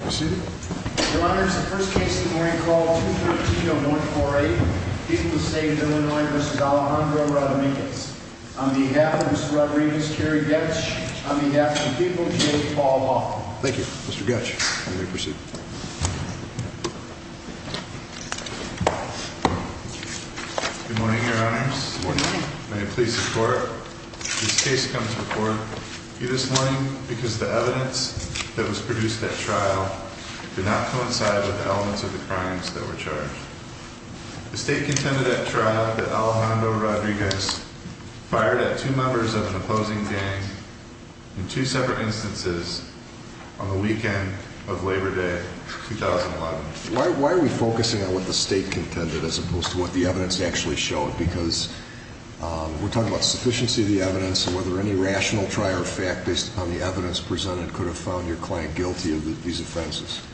on behalf of the people, Paul. Thank you, Mr. Gutsch. Good morning, your honors. Please support this case. Come to the court this morning because the evidence that was presented at trial did not coincide with the elements of the crimes that were charged. The state contended at trial that Alejandro Rodriguez fired at two members of an opposing gang in two separate instances on the weekend of Labor Day 2011. Why are we focusing on what the state contended as opposed to what the evidence actually showed? Because we're talking about sufficiency of the evidence and whether any of the elements of the crimes that were charged did not coincide with the elements of the crimes that were charged.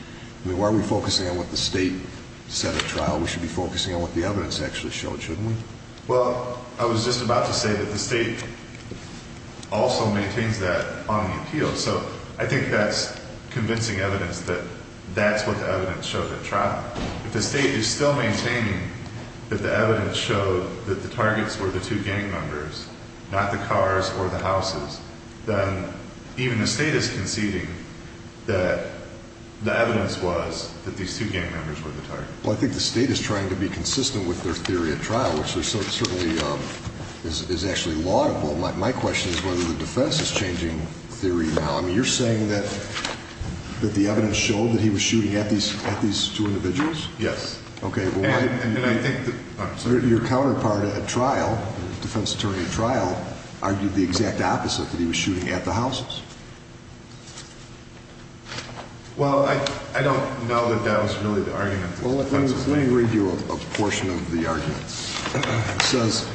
I mean, why are we focusing on what the state said at trial? We should be focusing on what the evidence actually showed, shouldn't we? Well, I was just about to say that the state also maintains that on the appeal. So I think that's convincing evidence that that's what the evidence showed at trial. If the state is still maintaining that the evidence showed that the targets were the two gang members, not the cars or the houses, then even the state is conceding that the evidence was that these two gang members were the target. Well, I think the state is trying to be consistent with their theory at trial, which certainly is actually laudable. My question is whether the defense is changing theory now. I mean, you're saying that the evidence showed that he was shooting at these two individuals? Yes. Your counterpart at trial, the defense attorney at trial, argued the exact opposite, that he was shooting at the houses. Well, I don't know that that was really the argument. Well, let me read you a portion of the argument. It says,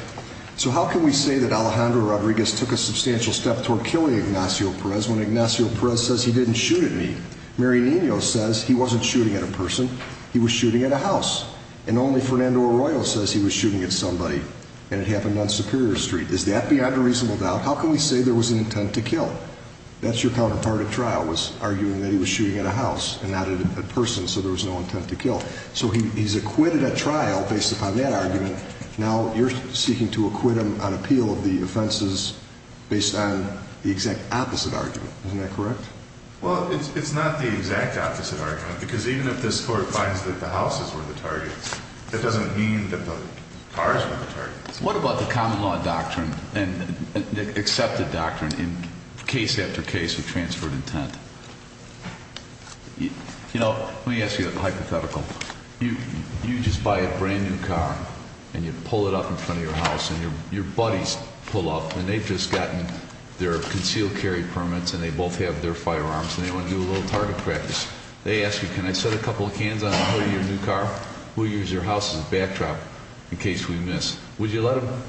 so how can we say that Alejandro Rodriguez took a substantial step toward killing Ignacio Perez when Ignacio Perez says he didn't shoot at me? Mary Nino says he wasn't shooting at a person, he was shooting at a house. And only Fernando Arroyo says he was shooting at somebody. And it happened on Superior Street. Is that beyond a reasonable doubt? How can we say there was an intent to kill? That's your counterpart at trial was arguing that he was shooting at a house and not at a person, so there was no intent to kill. So he's acquitted at trial based upon that argument. Now you're seeking to acquit him on appeal of the offenses based on the exact opposite argument. Isn't that correct? Well, it's not the exact opposite argument, because even if this court finds that the houses were the targets, that doesn't mean that the cars were the targets. What about the common law doctrine and accepted doctrine in case after case of transferred intent? You know, let me ask you a hypothetical. You just buy a brand new car and you pull it up in front of your house and your buddies pull up and they've just gotten their concealed carry permits and they both have their firearms and they want to do a little target practice. They ask you, can I set a couple of cans on the hood of your new car? We'll use your house as a backdrop in case we miss. Would you let them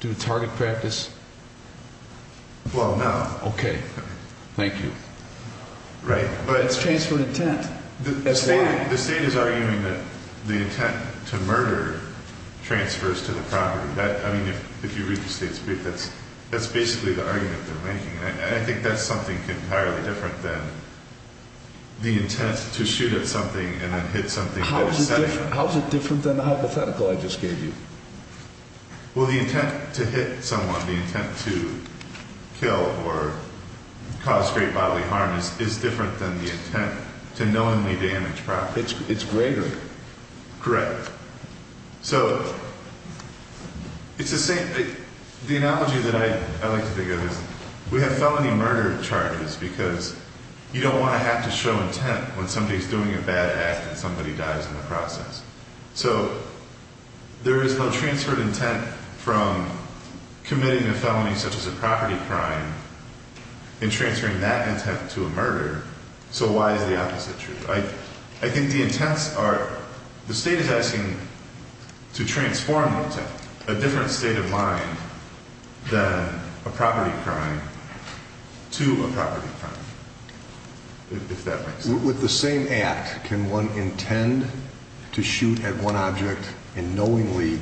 do target practice? Well, no. Okay. Thank you. It's transferred intent. That's why. The state is arguing that the intent to murder transfers to the property. I mean, if you read the state's brief, that's basically the argument they're making. I think that's something entirely different than the intent to How is it different than the hypothetical I just gave you? Well, the intent to hit someone, the intent to kill or cause great bodily harm is different than the intent to knowingly damage property. It's greater. Correct. So, it's the same the analogy that I like to think of is we have felony murder charges because you don't want to have to show intent when somebody's doing a bad act and somebody dies in the process. So, there is no transferred intent from committing a felony such as a property crime in transferring that intent to a murder. So, why is the opposite true? I think the intents are, the state is asking to transform the intent, a different state of mind than a property crime to a property crime. With the same act, can one intend to shoot at one object and knowingly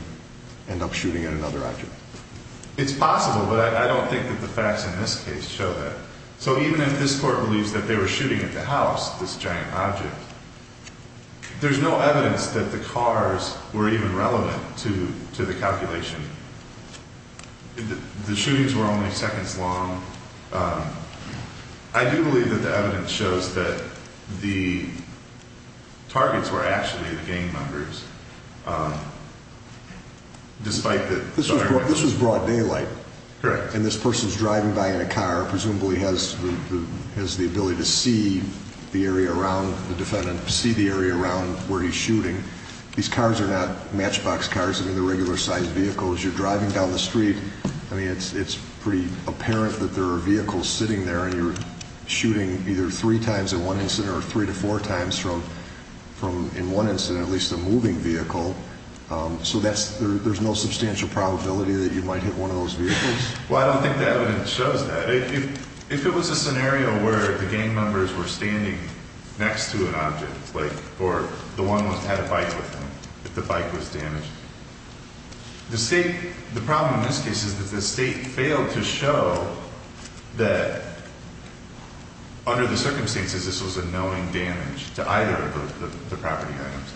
end up shooting at another object? It's possible, but I don't think that the facts in this case show that. So, even if this court believes that they were shooting at the house, this giant object, there's no evidence that the cars were even relevant to the calculation. The shootings were only seconds long. I do believe that the evidence shows that the targets were actually the gang members despite that. This was broad daylight. Correct. And this person's driving by in a car, presumably has the ability to see the area around the defendant, see the area around where he's shooting. These cars are not matchbox cars. I mean, they're regular sized vehicles. You're driving down the street. I mean, it's pretty apparent that there are vehicles sitting there and you're shooting either three times in one incident or three to four times in one incident, at least a moving vehicle. So there's no substantial probability that you might hit one of those vehicles? Well, I don't think the evidence shows that. If it was a scenario where the gang members were standing next to an object, or the one had a bike with him, if the bike was damaged, the state, the problem in this case is that the state failed to show that under the circumstances, this was a knowing damage to either of the property items.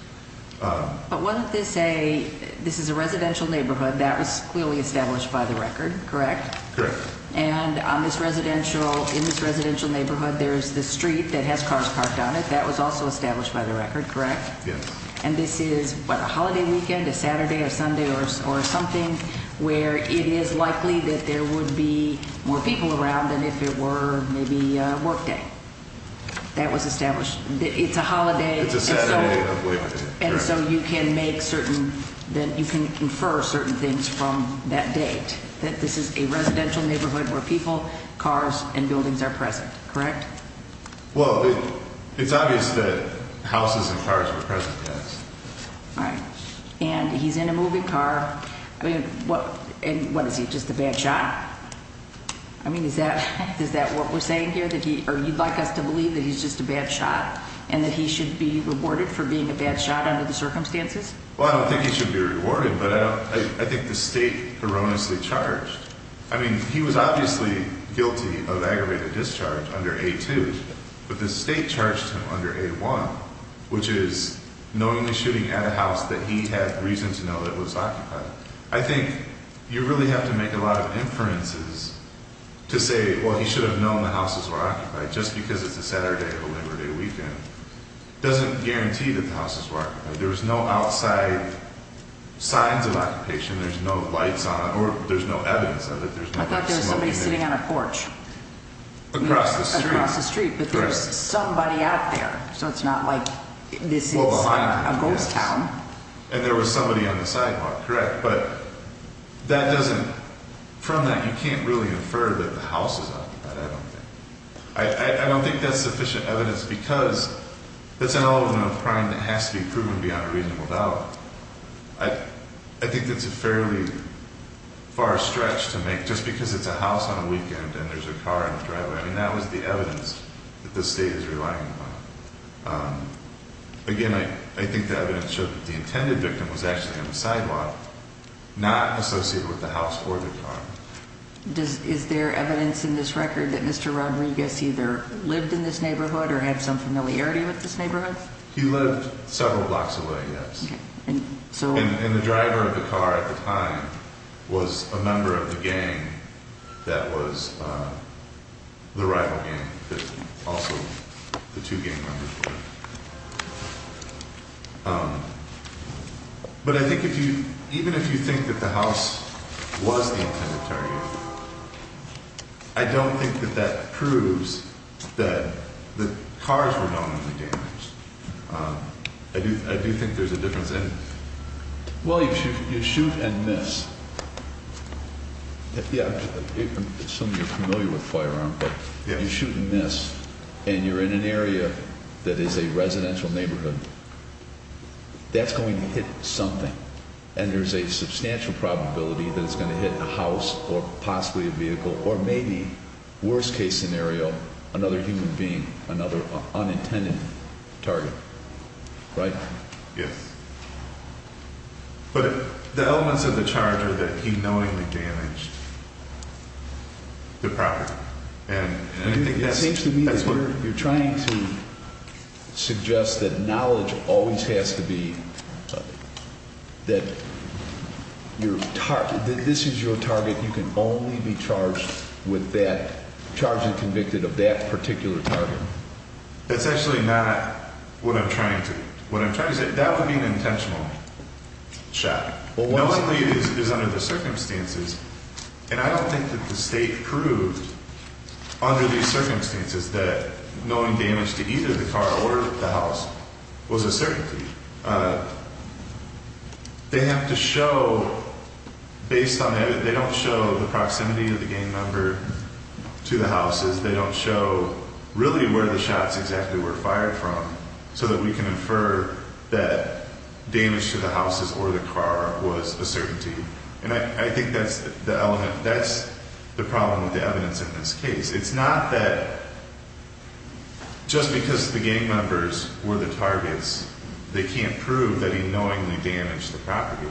But wasn't this a, this is a residential neighborhood that was clearly established by the record, correct? Correct. And on this residential, in this residential neighborhood, there's the street that has cars parked on it. That was also established by the record, correct? Yes. And this is what, a holiday weekend, a Saturday or Sunday or something where it is likely that there would be more people around than if it were maybe a work day. That was established. It's a holiday. It's a Saturday. And so you can make certain that you can infer certain things from that date that this is a residential neighborhood where people, cars, and buildings are present, correct? Well, it's obvious that houses and cars are present, yes. All right. And he's in a moving car. I mean, what, and what is he, just a bad shot? I mean, is that, is that what we're saying here, that he, or you'd like us to believe that he's just a bad shot and that he should be rewarded for being a bad shot under the circumstances? Well, I don't think he should be rewarded, but I don't, I think the state erroneously charged. I mean, he was obviously guilty of aggravated discharge under A2, but the state charged him under A1, which is knowingly shooting at a house that he had reason to know that was occupied. I think you really have to make a lot of inferences to say, well, he should have known the houses were occupied just because it's a Saturday or a Labor Day weekend doesn't guarantee that the houses were occupied. There was no outside signs of occupation. There's no lights on, or there's no evidence of it. I thought there was somebody sitting on a porch. Across the street. But there's somebody out there. So it's not like this is a ghost town. And there was somebody on the sidewalk. Correct. But that doesn't, from that you can't really infer that the house is occupied, I don't think. I don't think that's sufficient evidence because that's an element of crime that has to be proven beyond a reasonable doubt. I think that's a fairly far stretch to make just because it's a house on a weekend and there's a car on the driveway. I mean, that was the evidence that the state is relying upon. Again, I think the evidence shows that the intended victim was actually on the sidewalk, not associated with the house or the car. Is there evidence in this record that Mr. Rodriguez either lived in this neighborhood or had some familiarity with this neighborhood? He lived several blocks away, yes. And the driver of the car at the time was a member of the gang that was the rival gang, also the two gang members were. But I think if you, even if you think that the house was the intended target, I don't think that that proves that the cars were known to be damaged. I do think there's a difference in... Well, you shoot and miss. Yeah, I assume you're familiar with firearms, but you shoot and miss and you're in an area that is a residential neighborhood. That's going to hit something and there's a substantial probability that it's going to hit a house or possibly a vehicle or maybe, worst case scenario, another human being, another unintended target, right? Yes. But the elements of the charge are that he knowingly damaged the property. It seems to me that you're trying to suggest that knowledge always has to be that this is your target, you can only be charged with that, charged and convicted of that particular target. That's actually not what I'm trying to, what I'm trying to say, that would be an intentional shot. Knowingly is under the circumstances, and I don't think that the state proved under these circumstances that knowing damage to either the car or the house was a certainty. They have to show based on that, they don't show the proximity of the gang member to the houses, they don't show really where the shots exactly were fired from so that we can infer that damage to the houses or the car was a certainty. And I think that's the element, that's the problem with the evidence in this case. It's not that just because the gang members were the targets, they can't prove that he knowingly damaged the property.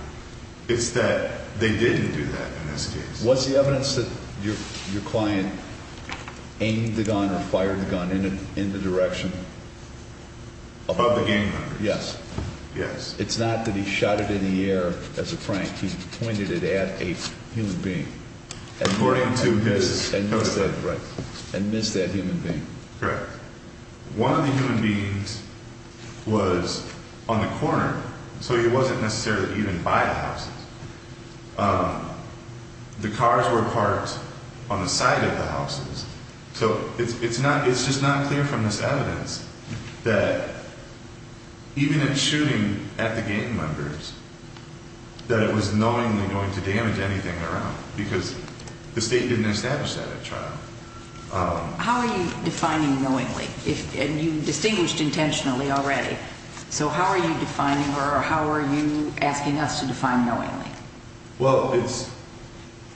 It's that they didn't do that in this case. What's the evidence that your client aimed the gun and fired the gun in the direction of the gang member? Yes. It's not that he shot it in the air as a prank, he pointed it at a human being. And missed that human being. One of the human beings was on the corner, so he wasn't necessarily even by the houses. The cars were parked on the side of the houses. So it's just not clear from this evidence that even in shooting at the gang members, that it was knowingly going to damage anything around because the state didn't establish that at trial. How are you defining knowingly? And you distinguished intentionally already. So how are you defining or how are you asking us to define knowingly? Well, it's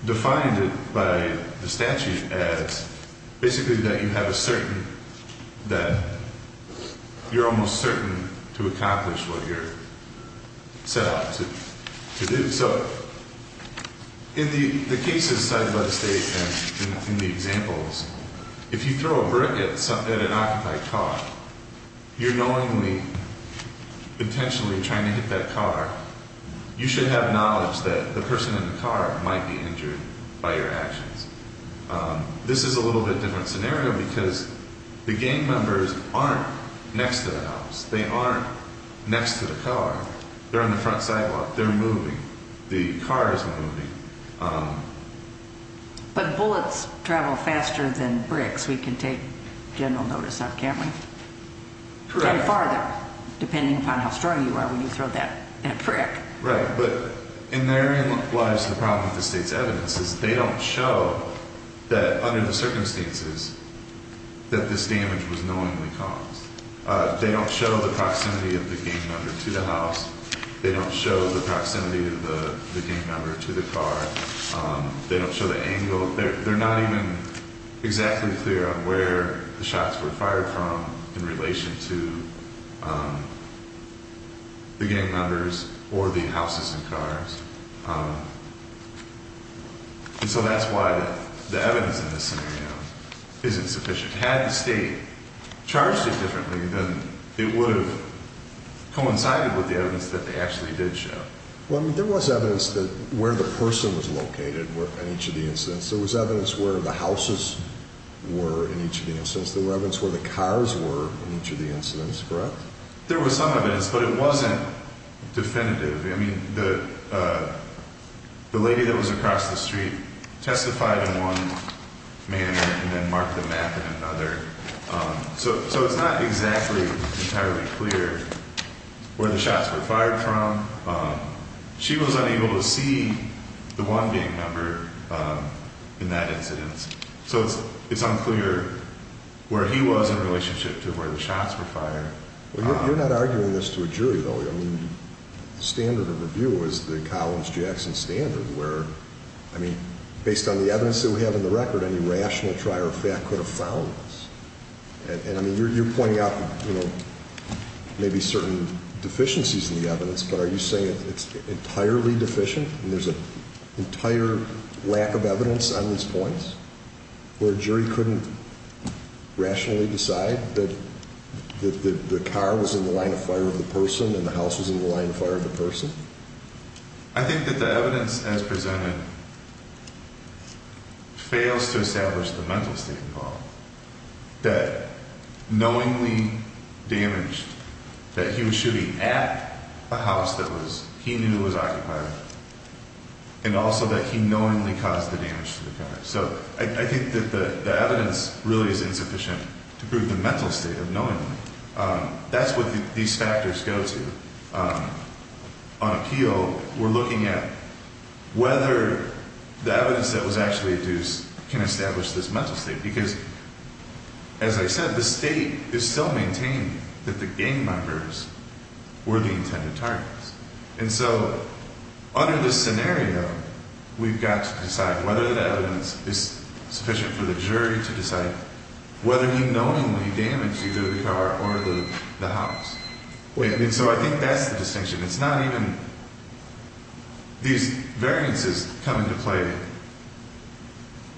defined as basically that you have a certain that you're almost certain to accomplish what you're set out to do. So in the cases cited by the state and in the examples, if you throw a brick at an occupied car, you're knowingly intentionally trying to hit that car. This is a little bit different scenario because the gang members aren't next to the house. They aren't next to the car. They're on the front sidewalk. They're moving. The car is moving. But bullets travel faster than bricks, we can take general notice of, can't we? Correct. And farther, depending upon how strong you are when you throw that brick. Right, but in their lives, the problem with the state's evidence is they don't show that under the circumstances that this damage was knowingly caused. They don't show the proximity of the gang member to the house. They don't show the proximity of the gang member to the car. They don't show the angle. They're not even exactly clear on where the shots were fired from in relation to the gang members or the houses and cars. And so that's why the evidence in this scenario isn't sufficient. Had the state charged it differently, then it would have coincided with the evidence that they actually did show. There was evidence where the person was located in each of the incidents. There was evidence where the houses were in each of the incidents. There was evidence where the cars were in each of the incidents, correct? There was some evidence, but it wasn't definitive. The lady that was across the street testified in one manner and then marked the map in another. So it's not exactly entirely clear where the shots were fired from. She was unable to see the one gang member in that incident. So it's unclear where he was in relationship to where the shots were fired. You're not arguing this to a jury, though. The standard of review was the Collins-Jackson standard, where, I mean, based on the evidence that we have in the record, any rational trier of fact could have found this. And you're pointing out maybe certain deficiencies in the evidence, but are you saying it's entirely deficient and there's an entire lack of evidence on these points where a jury couldn't rationally decide that the car was in the line of fire of the person and the house was in the line of fire of the person? I think that the evidence as presented fails to establish the mental state involved. That knowingly damaged, that he was shooting at a house that he knew was occupied and also that he knowingly caused the damage to the car. So I think that the evidence really is insufficient to prove the mental state of knowingly. That's what these factors go to. On appeal, we're looking at whether the evidence that was actually induced can establish this mental state because, as I said, the state is still maintaining that the gang members were the intended targets. And so under this scenario, we've got to decide whether the evidence is sufficient for the jury to decide whether he knowingly damaged either the car or the house. And so I think that's the distinction. It's not even these variances come into play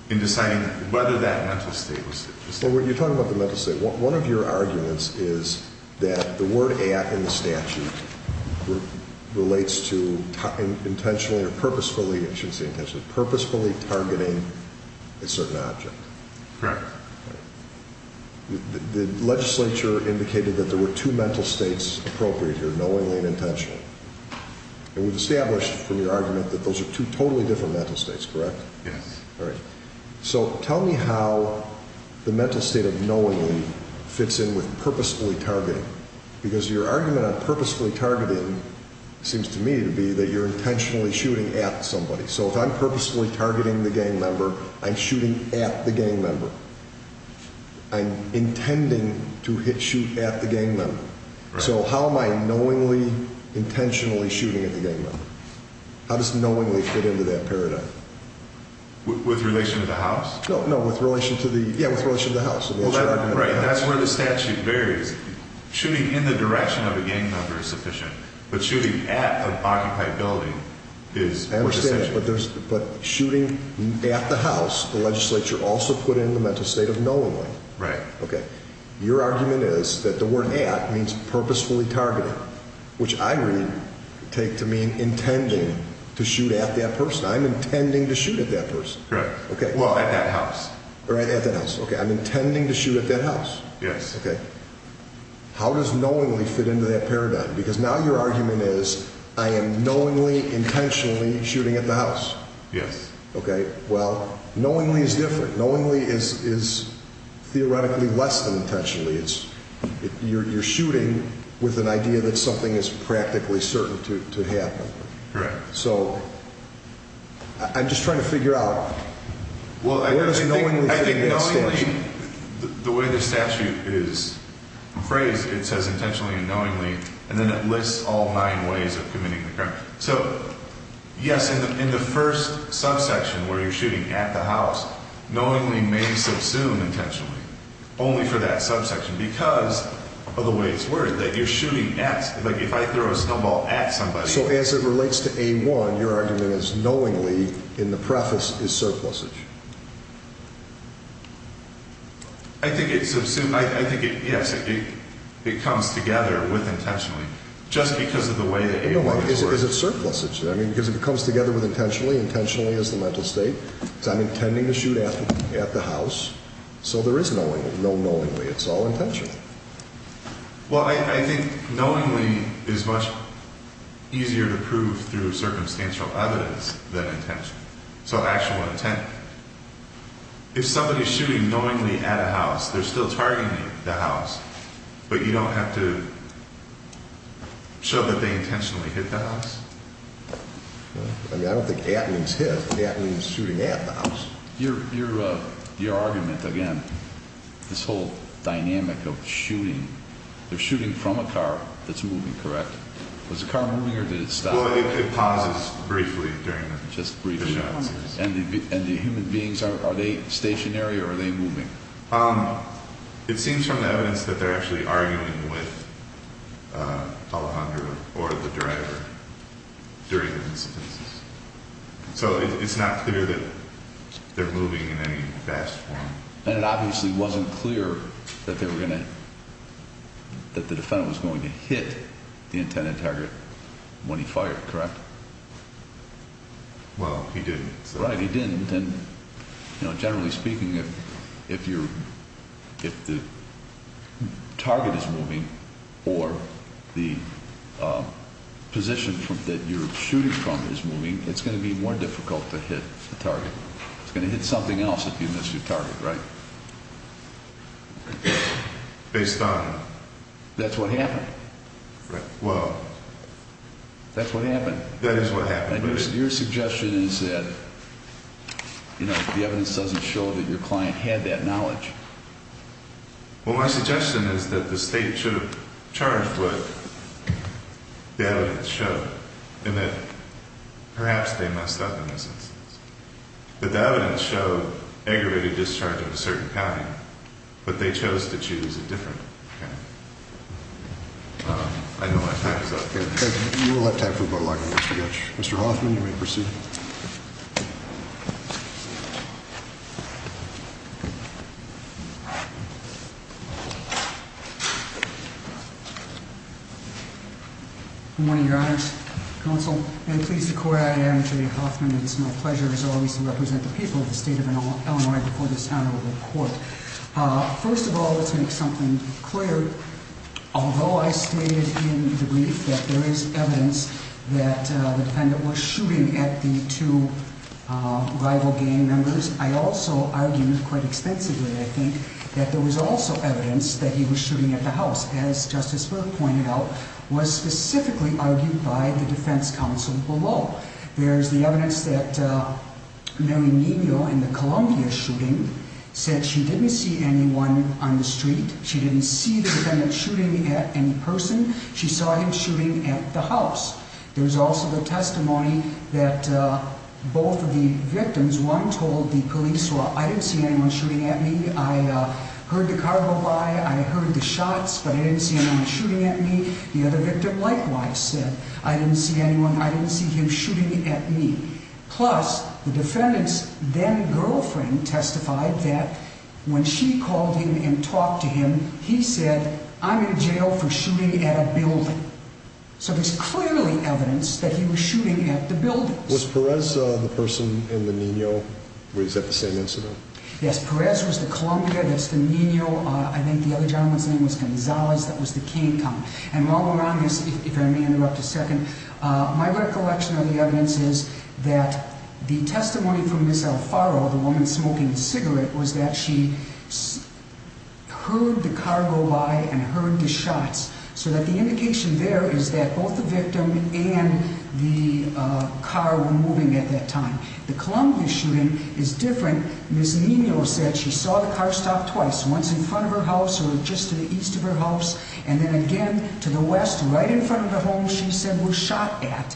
in deciding whether that mental state was... When you're talking about the mental state, one of your arguments is that the word at in the statute relates to intentionally or purposefully, I shouldn't say intentionally, purposefully targeting a certain object. The legislature indicated that there were two mental states appropriate here, knowingly and intentionally. And we've established from your argument that those are two totally different mental states, correct? Yes. So tell me how the mental state of knowingly fits in with purposefully targeting because your argument on purposefully targeting seems to me to be that you're intentionally shooting at somebody. So if I'm purposefully targeting the gang member, I'm shooting at the gang member. I'm intending to shoot at the gang member. So how am I knowingly, intentionally shooting at the gang member? How does knowingly fit into that paradigm? With relation to the house? No, with relation to the house. That's where the statute varies. Shooting in the direction of a gang member is sufficient, but shooting at an occupied building is more essential. I understand, but shooting at the house, the legislature also put in the mental state of knowingly. Right. Okay. Your argument is that the word at means purposefully targeting, which I read take to mean intending to shoot at that person. I'm intending to shoot at that person. Correct. Well, at that house. Okay, I'm intending to shoot at that house. Yes. Okay. How does knowingly fit into that paradigm? Because now your argument is I am knowingly, intentionally shooting at the house. Yes. Okay. Well, knowingly is different. Knowingly is theoretically less than intentionally. You're shooting with an idea that something is practically certain to happen. Correct. So I'm just trying to figure out where does knowingly fit into that statute? The way the statute is phrased, it says intentionally and knowingly, and then it lists all nine ways of committing the crime. So yes, in the first subsection where you're shooting at the house, knowingly may subsume intentionally only for that subsection because of the way it's worded, that you're shooting at, like if I throw a snowball at somebody. So as it relates to A1, your argument is knowingly in the preface is surplusage. I think it comes together with intentionally just because of the way that A1 is worded. Is it surplusage? I mean, because it comes together with intentionally. Intentionally is the mental state. So I'm intending to shoot at the house. So there is knowingly. No knowingly. It's all intentionally. Well, I think knowingly is much easier to prove through circumstantial evidence than intentionally. So actual intent. If somebody is shooting knowingly at a house, they're still targeting the house, but you don't have to show that they intentionally hit the house. I mean, I don't think at means hit. At means shooting at the house. Your argument, again, this whole dynamic of shooting, they're shooting from a car that's moving, correct? Was the car moving or did it stop? Well, it pauses briefly during the shots. And the human beings, are they stationary or are they moving? It seems from the evidence that they're actually arguing with Alejandro or the driver during the incidences. So it's not clear that they're moving in any vast form. And it obviously wasn't clear that they were going to that the defendant was going to hit the intended target when he fired, correct? Well, he didn't. Right, he didn't. And generally speaking, if the target is moving or the position that you're shooting from is moving, it's going to be more difficult to hit the target. It's going to hit something else if you miss your target, right? Based on? That's what happened. That is what happened. Your suggestion is that the evidence doesn't show that your client had that knowledge. Well, my suggestion is that the State should have charged what the evidence showed and that perhaps they must have in this instance. But the evidence showed aggravated discharge of a certain kind, but they chose to choose a different kind. I know my time is up here. We'll have time for a vote. Mr. Hoffman, you may proceed. Good morning, Your Honor, Counsel, and pleased to call you. I am Jay Hoffman. It is my pleasure as always to represent the people of the State of Illinois before this honorable court. First of all, let's make something clear. Although I stated in the brief that there is evidence that the defendant was shooting at the two rival gang members, I also argued quite extensively, I think, that there was also evidence that he was shooting at the house, as Justice Burke pointed out, was specifically argued by the defense counsel below. There's the evidence that Mary Nino in the Columbia shooting said she didn't see anyone on the street. She didn't see the defendant shooting at any person. She saw him shooting at the house. There's also the testimony that both of the victims, one told the police, well, I didn't see anyone shooting at me. I heard the car go by. I heard the shots, but I didn't see anyone shooting at me. The other victim likewise said, I didn't see anyone, I didn't see him shooting at me. Plus, the defendant's then-girlfriend testified that when she called him and talked to him, he said, I'm in jail for shooting at a building. So there's clearly evidence that he was shooting at the building. Was Perez the person in the Nino where he's at the same incident? Yes, Perez was the Columbia, that's the Nino, I think the other gentleman's name was Gonzalez, that was the Cane Com. And while we're on this, if I may interrupt a second, my recollection of the testimony from Ms. Alfaro, the woman smoking a cigarette, was that she heard the car go by and heard the shots, so that the indication there is that both the victim and the car were moving at that time. The Columbia shooting is different. Ms. Nino said she saw the car stop twice, once in front of her house or just to the east of her house, and then again to the west, right in front of the home she said was shot at,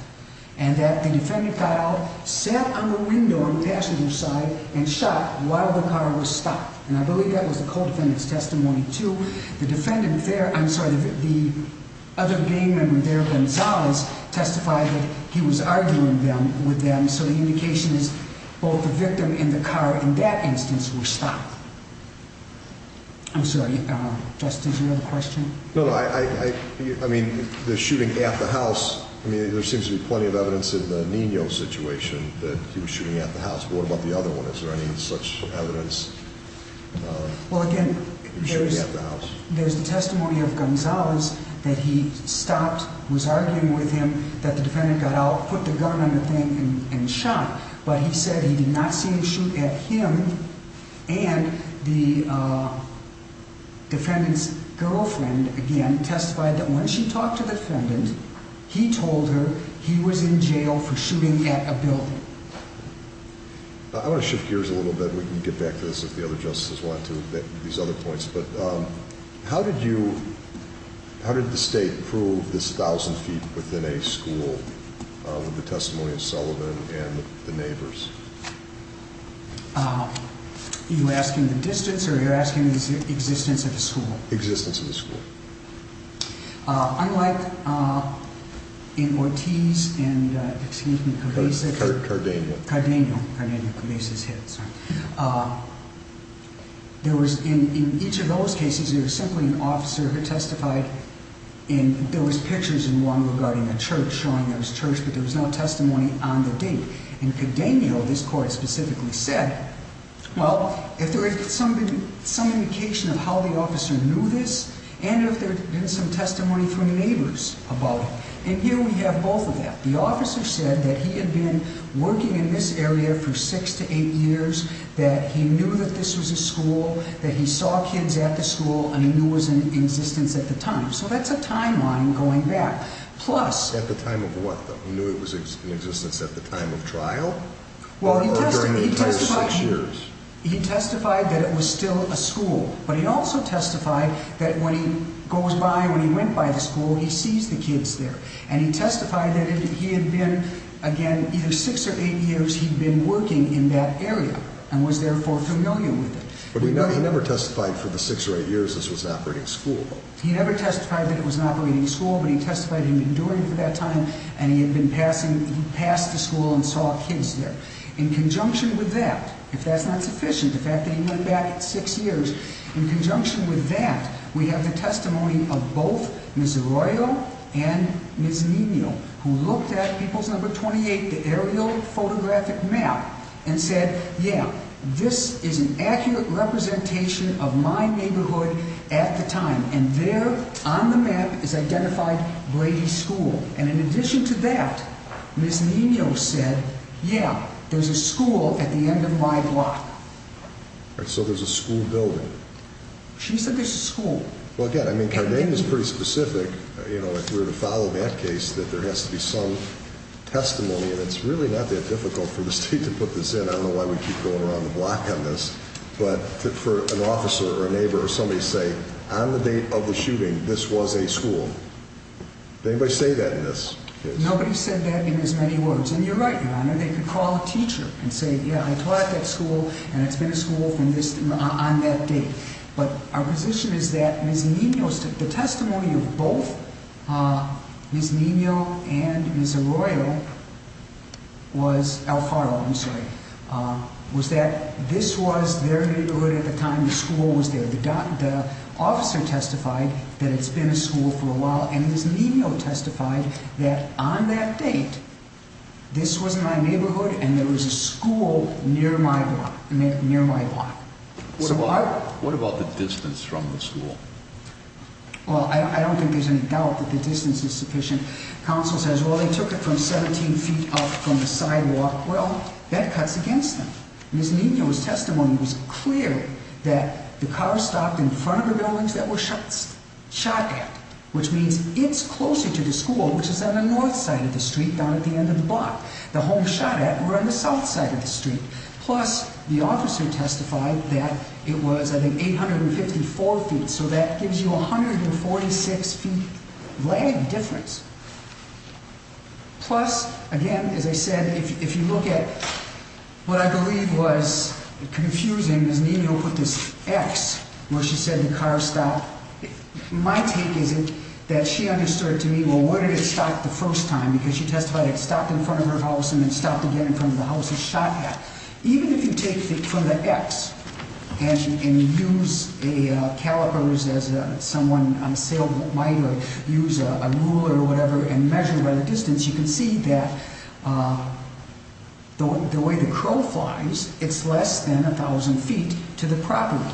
and that a defendant got out, sat on the window on the passenger side, and shot while the car was stopped. And I believe that was the co-defendant's testimony too. The defendant there, I'm sorry, the other gang member there, Gonzalez, testified that he was arguing with them, so the indication is both the victim and the car in that instance were stopped. I'm sorry, Justice, you had a question? No, no, I mean, the shooting at the house, I mean, there seems to be plenty of evidence in the Nino situation that he was shooting at the house, but what about the other one? Is there any such evidence of shooting at the house? Well, again, there's the testimony of Gonzalez that he stopped, was arguing with him, that the defendant got out, put the gun on the thing, and shot, but he said he did not see him shoot at him, and the defendant's girlfriend, again, testified that when she talked to the defendant, he told her he was in jail for shooting at a building. I want to shift gears a little bit and we can get back to this if the other justices want to, these other points, but how did you, how did the state prove this 1,000 feet within a school with the testimony of Sullivan and the neighbors? You're asking the distance or you're asking the existence of the school? Existence of the school. Unlike in Ortiz and, excuse me, Cabeza. Cardenio. Cardenio. Cardenio. Cabeza's hit, sorry. In each of those cases, there was simply an officer who testified and there was pictures in one regarding a church, showing there was church, but there was no testimony on the date. In Cardenio, this court specifically said, well, if there is some indication of how the officer knew this, and if there had been some testimony from the neighbors about it. And here we have both of that. The officer said that he had been working in this area for six to eight years, that he knew that this was a school, that he saw kids at the school, and he knew it was in existence at the time. So that's a timeline going back. Plus At the time of what, though? He knew it was in existence at the time of trial? Or during the entire six years? He testified that it was still a school. But he also testified that when he goes by, when he went by the school, he sees the kids there. And he testified that he had been, again, either six or eight years, he'd been working in that area, and was therefore familiar with it. But he never testified for the six or eight years this was an operating school? He never testified that it was an operating school, but he testified he'd been doing it for that time, and he had been passing, he passed the school and saw kids there. In conjunction with that, if that's not sufficient, the fact that he went back six years, in conjunction with that, we have the testimony of both Ms. Arroyo and Ms. Nino, who looked at People's Number 28, the aerial photographic map, and said, yeah, this is an accurate representation of my neighborhood at the time. And there, on the map, is identified Brady School. And in addition to that, Ms. Nino said, yeah, there's a school at the end of my block. And so there's a school building? She said there's a school. Well, again, I mean, Cardenia's pretty specific, you know, if we were to follow that case, that there has to be some testimony, and it's really not that difficult for the State to put this in. I don't know why we keep going around the block on this, but for an officer or a neighbor or somebody to say, on the date of the shooting, this was a school. Did anybody say that in this case? Nobody said that in as many words. And you're right, Your Honor, they could call a teacher and say, yeah, I taught at that school and it's been a school on that date. But our position is that Ms. Nino, the testimony of both Ms. Nino and Ms. Arroyo was, Alfaro, I'm sorry, was that this was their neighborhood at the time the school was there. The officer testified that it's been a school for a while, and Ms. Nino testified that on that date, this was my neighborhood and there was a school near my block. What about the distance from the school? Well, I don't think there's any doubt that the distance is sufficient. Counsel says, well, they took it from 17 feet up from the sidewalk. Well, that cuts against them. Ms. Nino's testimony was clear that the cars stopped in front of the buildings that were shot at, which means it's closer to the school, which is on the north side of the street, down at the end of the block. The homes shot at were on the south side of the street. Plus, the officer testified that it was, I think, 854 feet, so that gives you 146 feet lag difference. Plus, again, as I said, if you look at what I believe was confusing, Ms. Nino put this X where she said the cars stopped. My take is that she understood to me, well, where did it stop the first time? Because she testified it stopped in front of her house and then stopped again in front of the house it was shot at. Even if you take from the X and use a caliper as someone on sale might, or use a ruler or whatever, and measure by the distance, you can see that the way the crow flies, it's less than 1,000 feet to the property.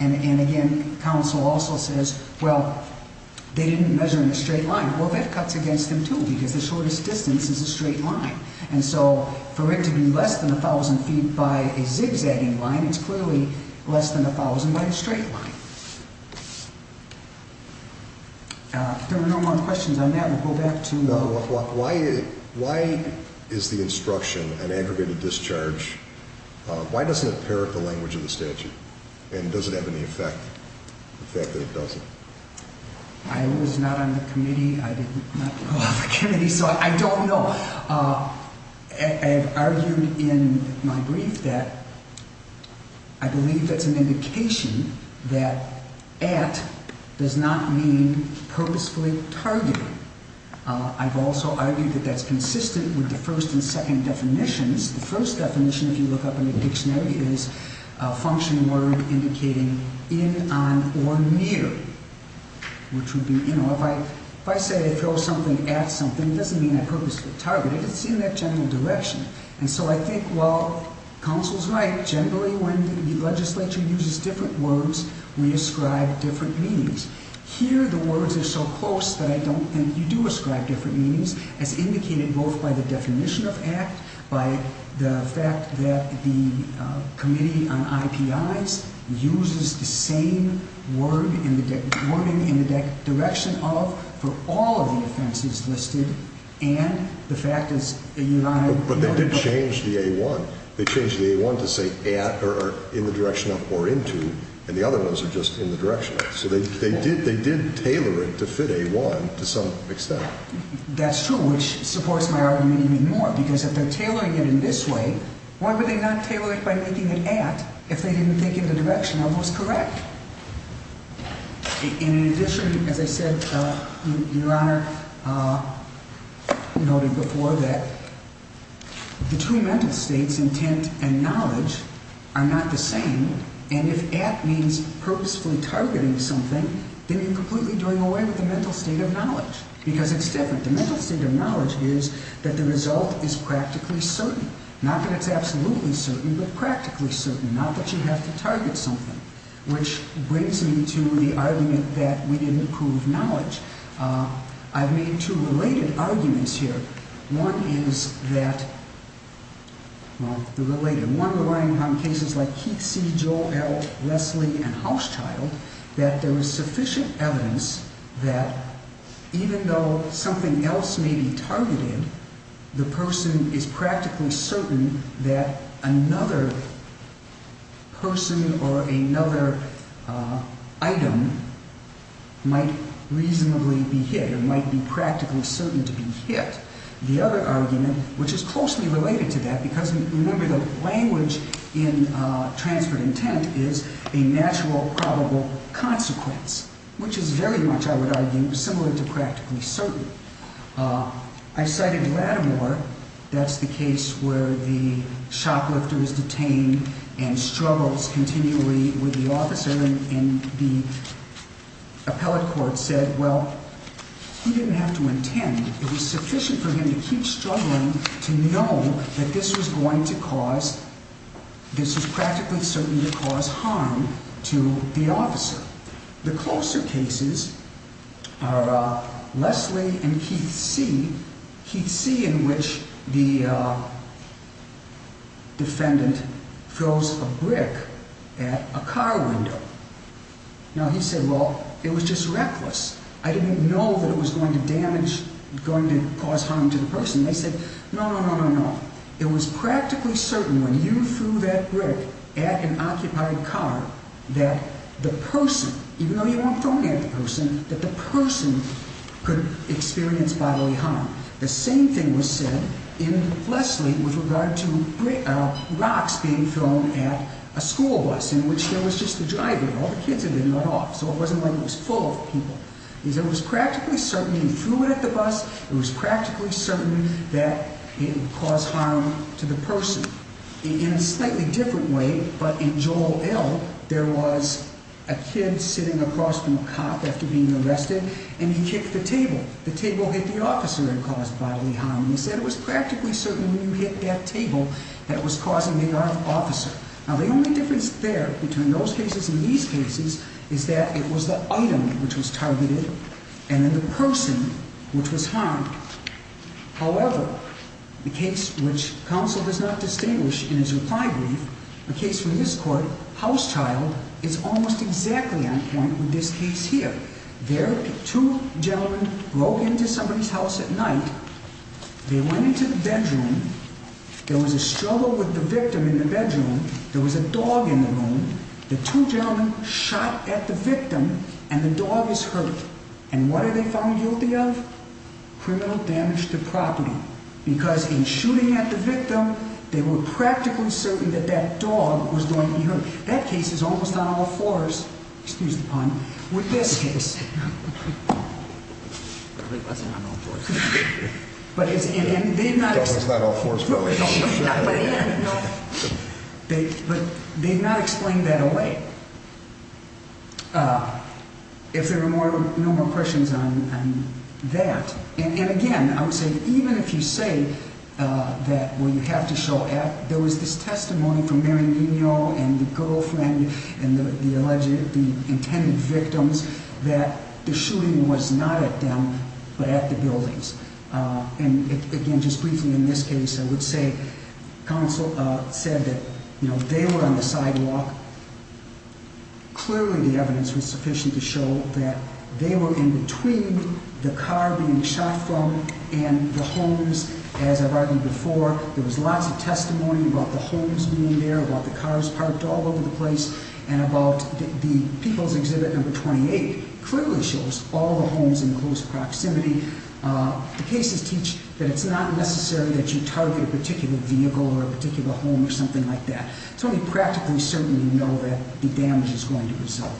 And again, counsel also says, well, they didn't measure in a straight line. Well, that cuts against them, too, because the shortest distance is a straight line. And so, for it to be less than 1,000 feet by a zigzagging line, it's clearly less than 1,000 by a straight line. If there are no more questions on that, we'll go back to... Why is the instruction an aggregated discharge? Why doesn't it parrot the language of the statute? And does it have any effect? The fact that it doesn't. I was not on the committee, I did not go off the committee, so I don't know. I've argued in my brief that I believe that's an indication that at does not mean purposefully targeted. I've also argued that that's consistent with the first and second definitions. The first definition, if you look up in the dictionary, is a function word indicating in, on, or near. If I say throw something at something, it doesn't mean I purposefully targeted. It's in that general direction. And so, I think, well, counsel's right. Generally, when the legislature uses different words, we ascribe different meanings. Here, the words are so close that I don't think you do ascribe different meanings, as indicated both by the definition of at, by the fact that the committee on IPIs uses the same wording in the direction of for all of the offenses listed, and the fact is... But they did change the A1. They changed the A1 to say at, or in the direction of, or into, and the other ones are just in the direction of. So they did tailor it to fit A1 to some extent. That's true, which supports my argument even more, because if they're tailoring it in this way, why would they not tailor it by making it at if they didn't think in the direction of was correct? In addition, as I said, Your Honor noted before that the two mental states, intent and knowledge, are not the same, and if at means purposefully targeting something, then you're completely doing away with the mental state of knowledge, because it's different. The mental state of knowledge is that the result is practically certain. Not that it's absolutely certain, but practically certain, not that you have to target something, which brings me to the argument that we didn't prove knowledge. I've made two related arguments here. One is that, well, the related, one relying on cases like Keith C., Joel L., Leslie, and Houschild, that there is sufficient evidence that even though something else may be targeted, the person is practically certain that another person or another item might reasonably be hit, or might be practically certain to be hit. The other argument, which is closely related to that, because remember the language in transferred intent is a natural, probable consequence, which is very much, I would argue, similar to practically certain. I cited Lattimore. That's the case where the shoplifter is detained and struggles continually with the officer and the appellate court said, well, he didn't have to intend. It was sufficient for him to keep struggling to know that this was going to cause, this was practically certain to cause harm to the officer. The closer cases are Leslie and Keith C., Keith C. in which the defendant throws a brick at a car window. Now he said, well, it was just reckless. I didn't know that it was going to damage, going to cause harm to the person. They said, no, no, no, no, no. It was practically certain when you threw that brick at an occupied car that the person, even though you weren't throwing it at the person, that the person could experience bodily harm. The same thing was said in Leslie with regard to rocks being thrown at a school bus in which there was just the driver. All the kids had been let off, so it wasn't like it was full of people. It was practically certain he threw it at the bus. It was practically certain that it would cause harm to the person. In a slightly different way, but in Joel L., there was a kid sitting across from a cop after being arrested, and he kicked the table. The table hit the officer and caused bodily harm. He said it was practically certain when you hit that table that it was causing the officer. Now the only difference there between those cases and these cases is that it was the item which was targeted and then the person which was harmed. However, the case which counsel does not distinguish in his reply brief, a case from this court, House Child, is almost exactly on point with this case here. There two gentlemen broke into somebody's house at night. They went into the bedroom. There was a struggle with the victim in the bedroom. There was a dog in the room. The two gentlemen shot at the victim, and the dog is hurt. And what are they found guilty of? Criminal damage to property, because in shooting at the victim, they were practically certain that that dog was going to be hurt. That case is almost on all fours, excuse the pun, with this case. But they've not explained that away. If there are no more questions on that. And again, I would say that even if you say that, well, you have to show act, there was this testimony from Marion Eno and the girlfriend and the intended victims that the shooting was not at them but at the buildings. And again, just briefly in this case, I would say counsel said that they were on the sidewalk. Clearly the evidence was sufficient to show that they were in between the car being shot from and the homes. As I've argued before, there was lots of testimony about the homes being there, about the cars parked all over the place, and about the people's exhibit number 28 clearly shows all the homes in close proximity. The cases teach that it's not necessary that you target a particular vehicle or a particular home or something like that. It's only practically certain you know that the damage is going to result.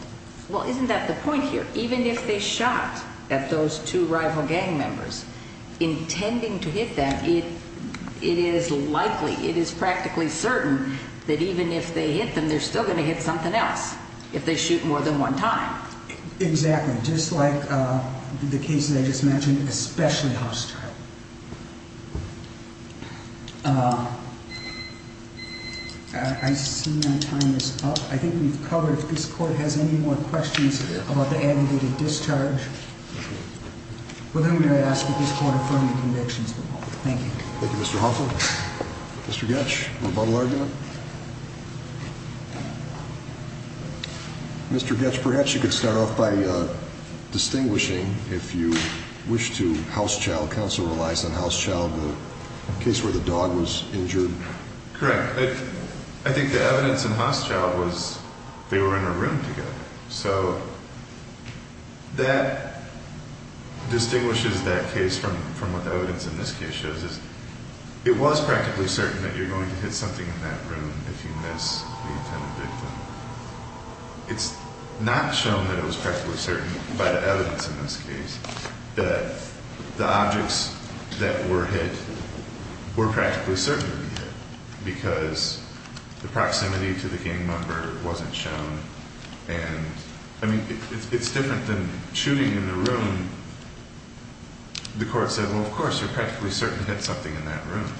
Well, isn't that the point here? Even if they shot at those two rival gang members, intending to hit them, it is likely, it is practically certain that even if they hit them, they're still going to hit something else if they shoot more than one time. Exactly. Just like the case that I just mentioned, especially House Child. I see my time is up. I think we've covered, if this court has any more questions about the aggregated discharge, with whom may I ask that this court affirm the convictions? Thank you. Thank you, Mr. Hoffman. Mr. Goetsch, rebuttal argument? Mr. Goetsch, perhaps you could start off by distinguishing, if you wish to, House Child, counsel or analyze in House Child the case where the dog was injured? Correct. I think the evidence in House Child was they were in a room together. So that distinguishes that case from what the evidence in this case shows is it was practically certain that you're going to hit something in that room if you miss the intended victim. It's not shown that it was practically certain by the evidence in this case that the objects that were hit were practically certain to be hit because the proximity to the gang member wasn't shown. It's different than shooting in a room. The court said, well, of course, you're practically certain to hit something in that room.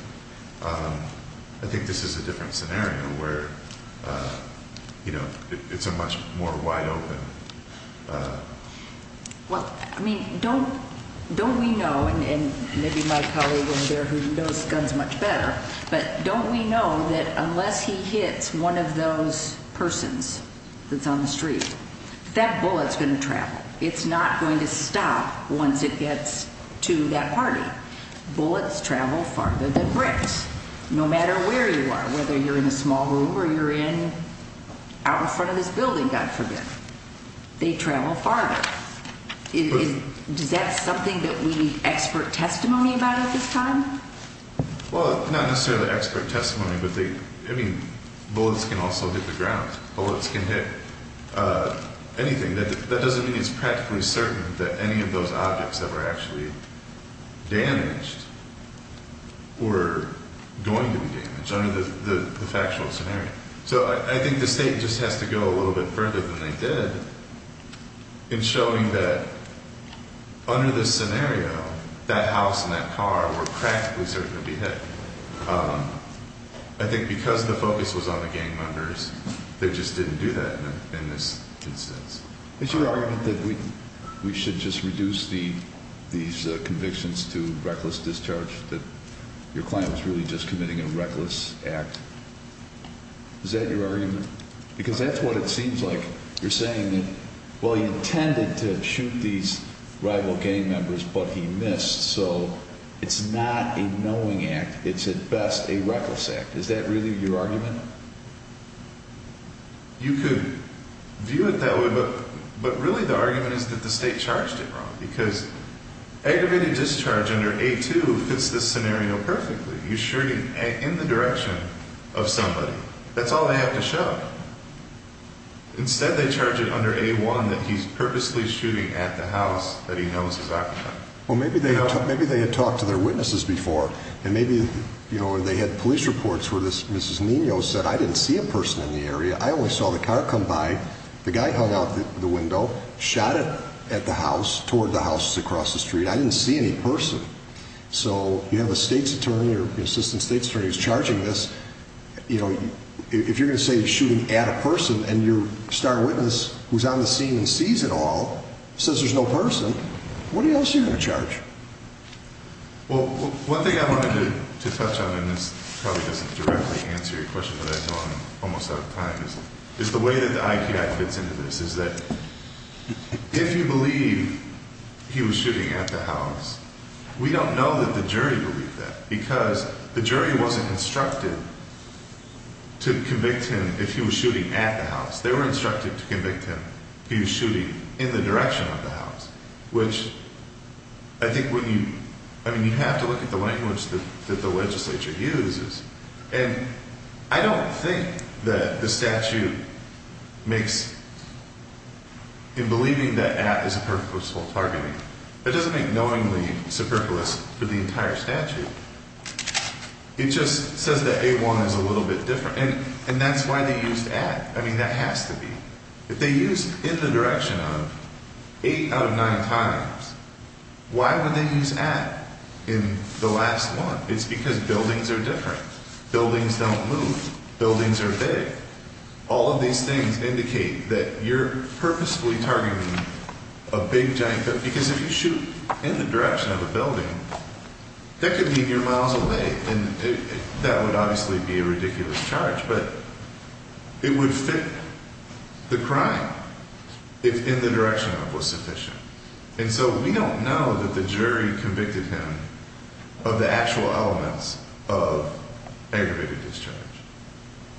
I think this is a different scenario where it's a much more wide open Well, I mean, don't we know, and maybe my colleague over there who knows guns much better, but don't we know that unless he hits one of those persons that's on the street, that bullet's going to travel. It's not going to stop once it gets to that party. Bullets travel farther than bricks, no matter where you are, whether you're in a small room or you're out in front of this building, God forbid. They travel farther. Is that something that we need expert testimony about at this time? Well, not necessarily expert testimony, but they I mean, bullets can also hit the ground. Bullets can hit anything. That doesn't mean it's practically certain that any of those objects that were actually damaged were going to be damaged under the factual scenario. So I think the State just has to go a little bit further than they did in showing that under this scenario that house and that car were practically certain to be hit. I think because the focus was on the gang members they just didn't do that in this instance. Is your argument that we should just reduce these convictions to reckless discharge, that your client was really just committing a reckless act? Is that your argument? Because that's what it seems like. You're saying that, well, he intended to shoot these rival gang members, but he missed, so it's not a knowing act. It's at best a reckless act. Is that really your argument? You could view it that way, but really the argument is that the State charged it wrong because aggravated discharge under A-2 fits this scenario perfectly. You're shooting in the direction of somebody. That's all they have to show. Instead they charge it under A-1 that he's purposely shooting at the house that he knows is occupied. Maybe they had talked to their witnesses before, and maybe they had police reports where Mrs. Nino said, I didn't see a person in the area, I only saw the car come by, the guy hung out the window, shot it at the house, toward the house across the street. I didn't see any person. So you have a State's attorney or an assistant State's attorney who's charging this. If you're going to say you're shooting at a person and your star witness who's on the scene and sees it all says there's no person, what else are you going to charge? One thing I wanted to touch on, and this probably doesn't directly answer your question, but I know I'm almost out of time, is the way that the IPI fits into this, is that if you believe he was shooting at the house, we don't know that the jury believed that, because the jury wasn't instructed to convict him if he was shooting at the house. They were instructed to convict him if he was shooting in the direction of the house, which I think when you, I mean you have to look at the language that the legislature uses, and I don't think that the statute makes in believing that at is a purposeful targeting. It doesn't make knowingly superfluous for the entire statute. It just says that A1 is a little bit different, and that's why they used at. I mean that has to be. If they used in the direction of eight out of nine times, why would they use at in the last one? It's because buildings are different. Buildings don't move. Buildings are big. All of these things indicate that you're purposefully targeting a big, giant building, because if you shoot in the direction of a building, that could mean you're miles away, and that would obviously be a ridiculous charge, but it would fit the crime if in the direction of was sufficient. And so we don't know that the jury convicted him of the actual elements of aggravated discharge.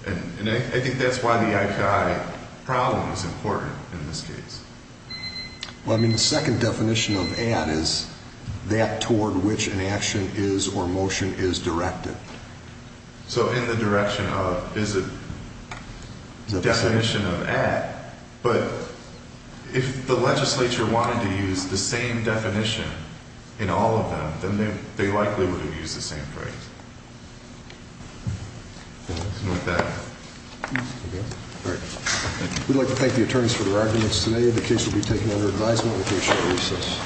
And I think that's why the IPI problem is important in this case. Well, I mean the second definition of at is that toward which an action is or motion is directed. So in the direction of is a definition of at, but if the legislature wanted to use the same definition in all of them, then they likely would have used the same phrase. Something like that. All right. We'd like to thank the attorneys for their arguments today. The case will be taken under advisement with very short recess.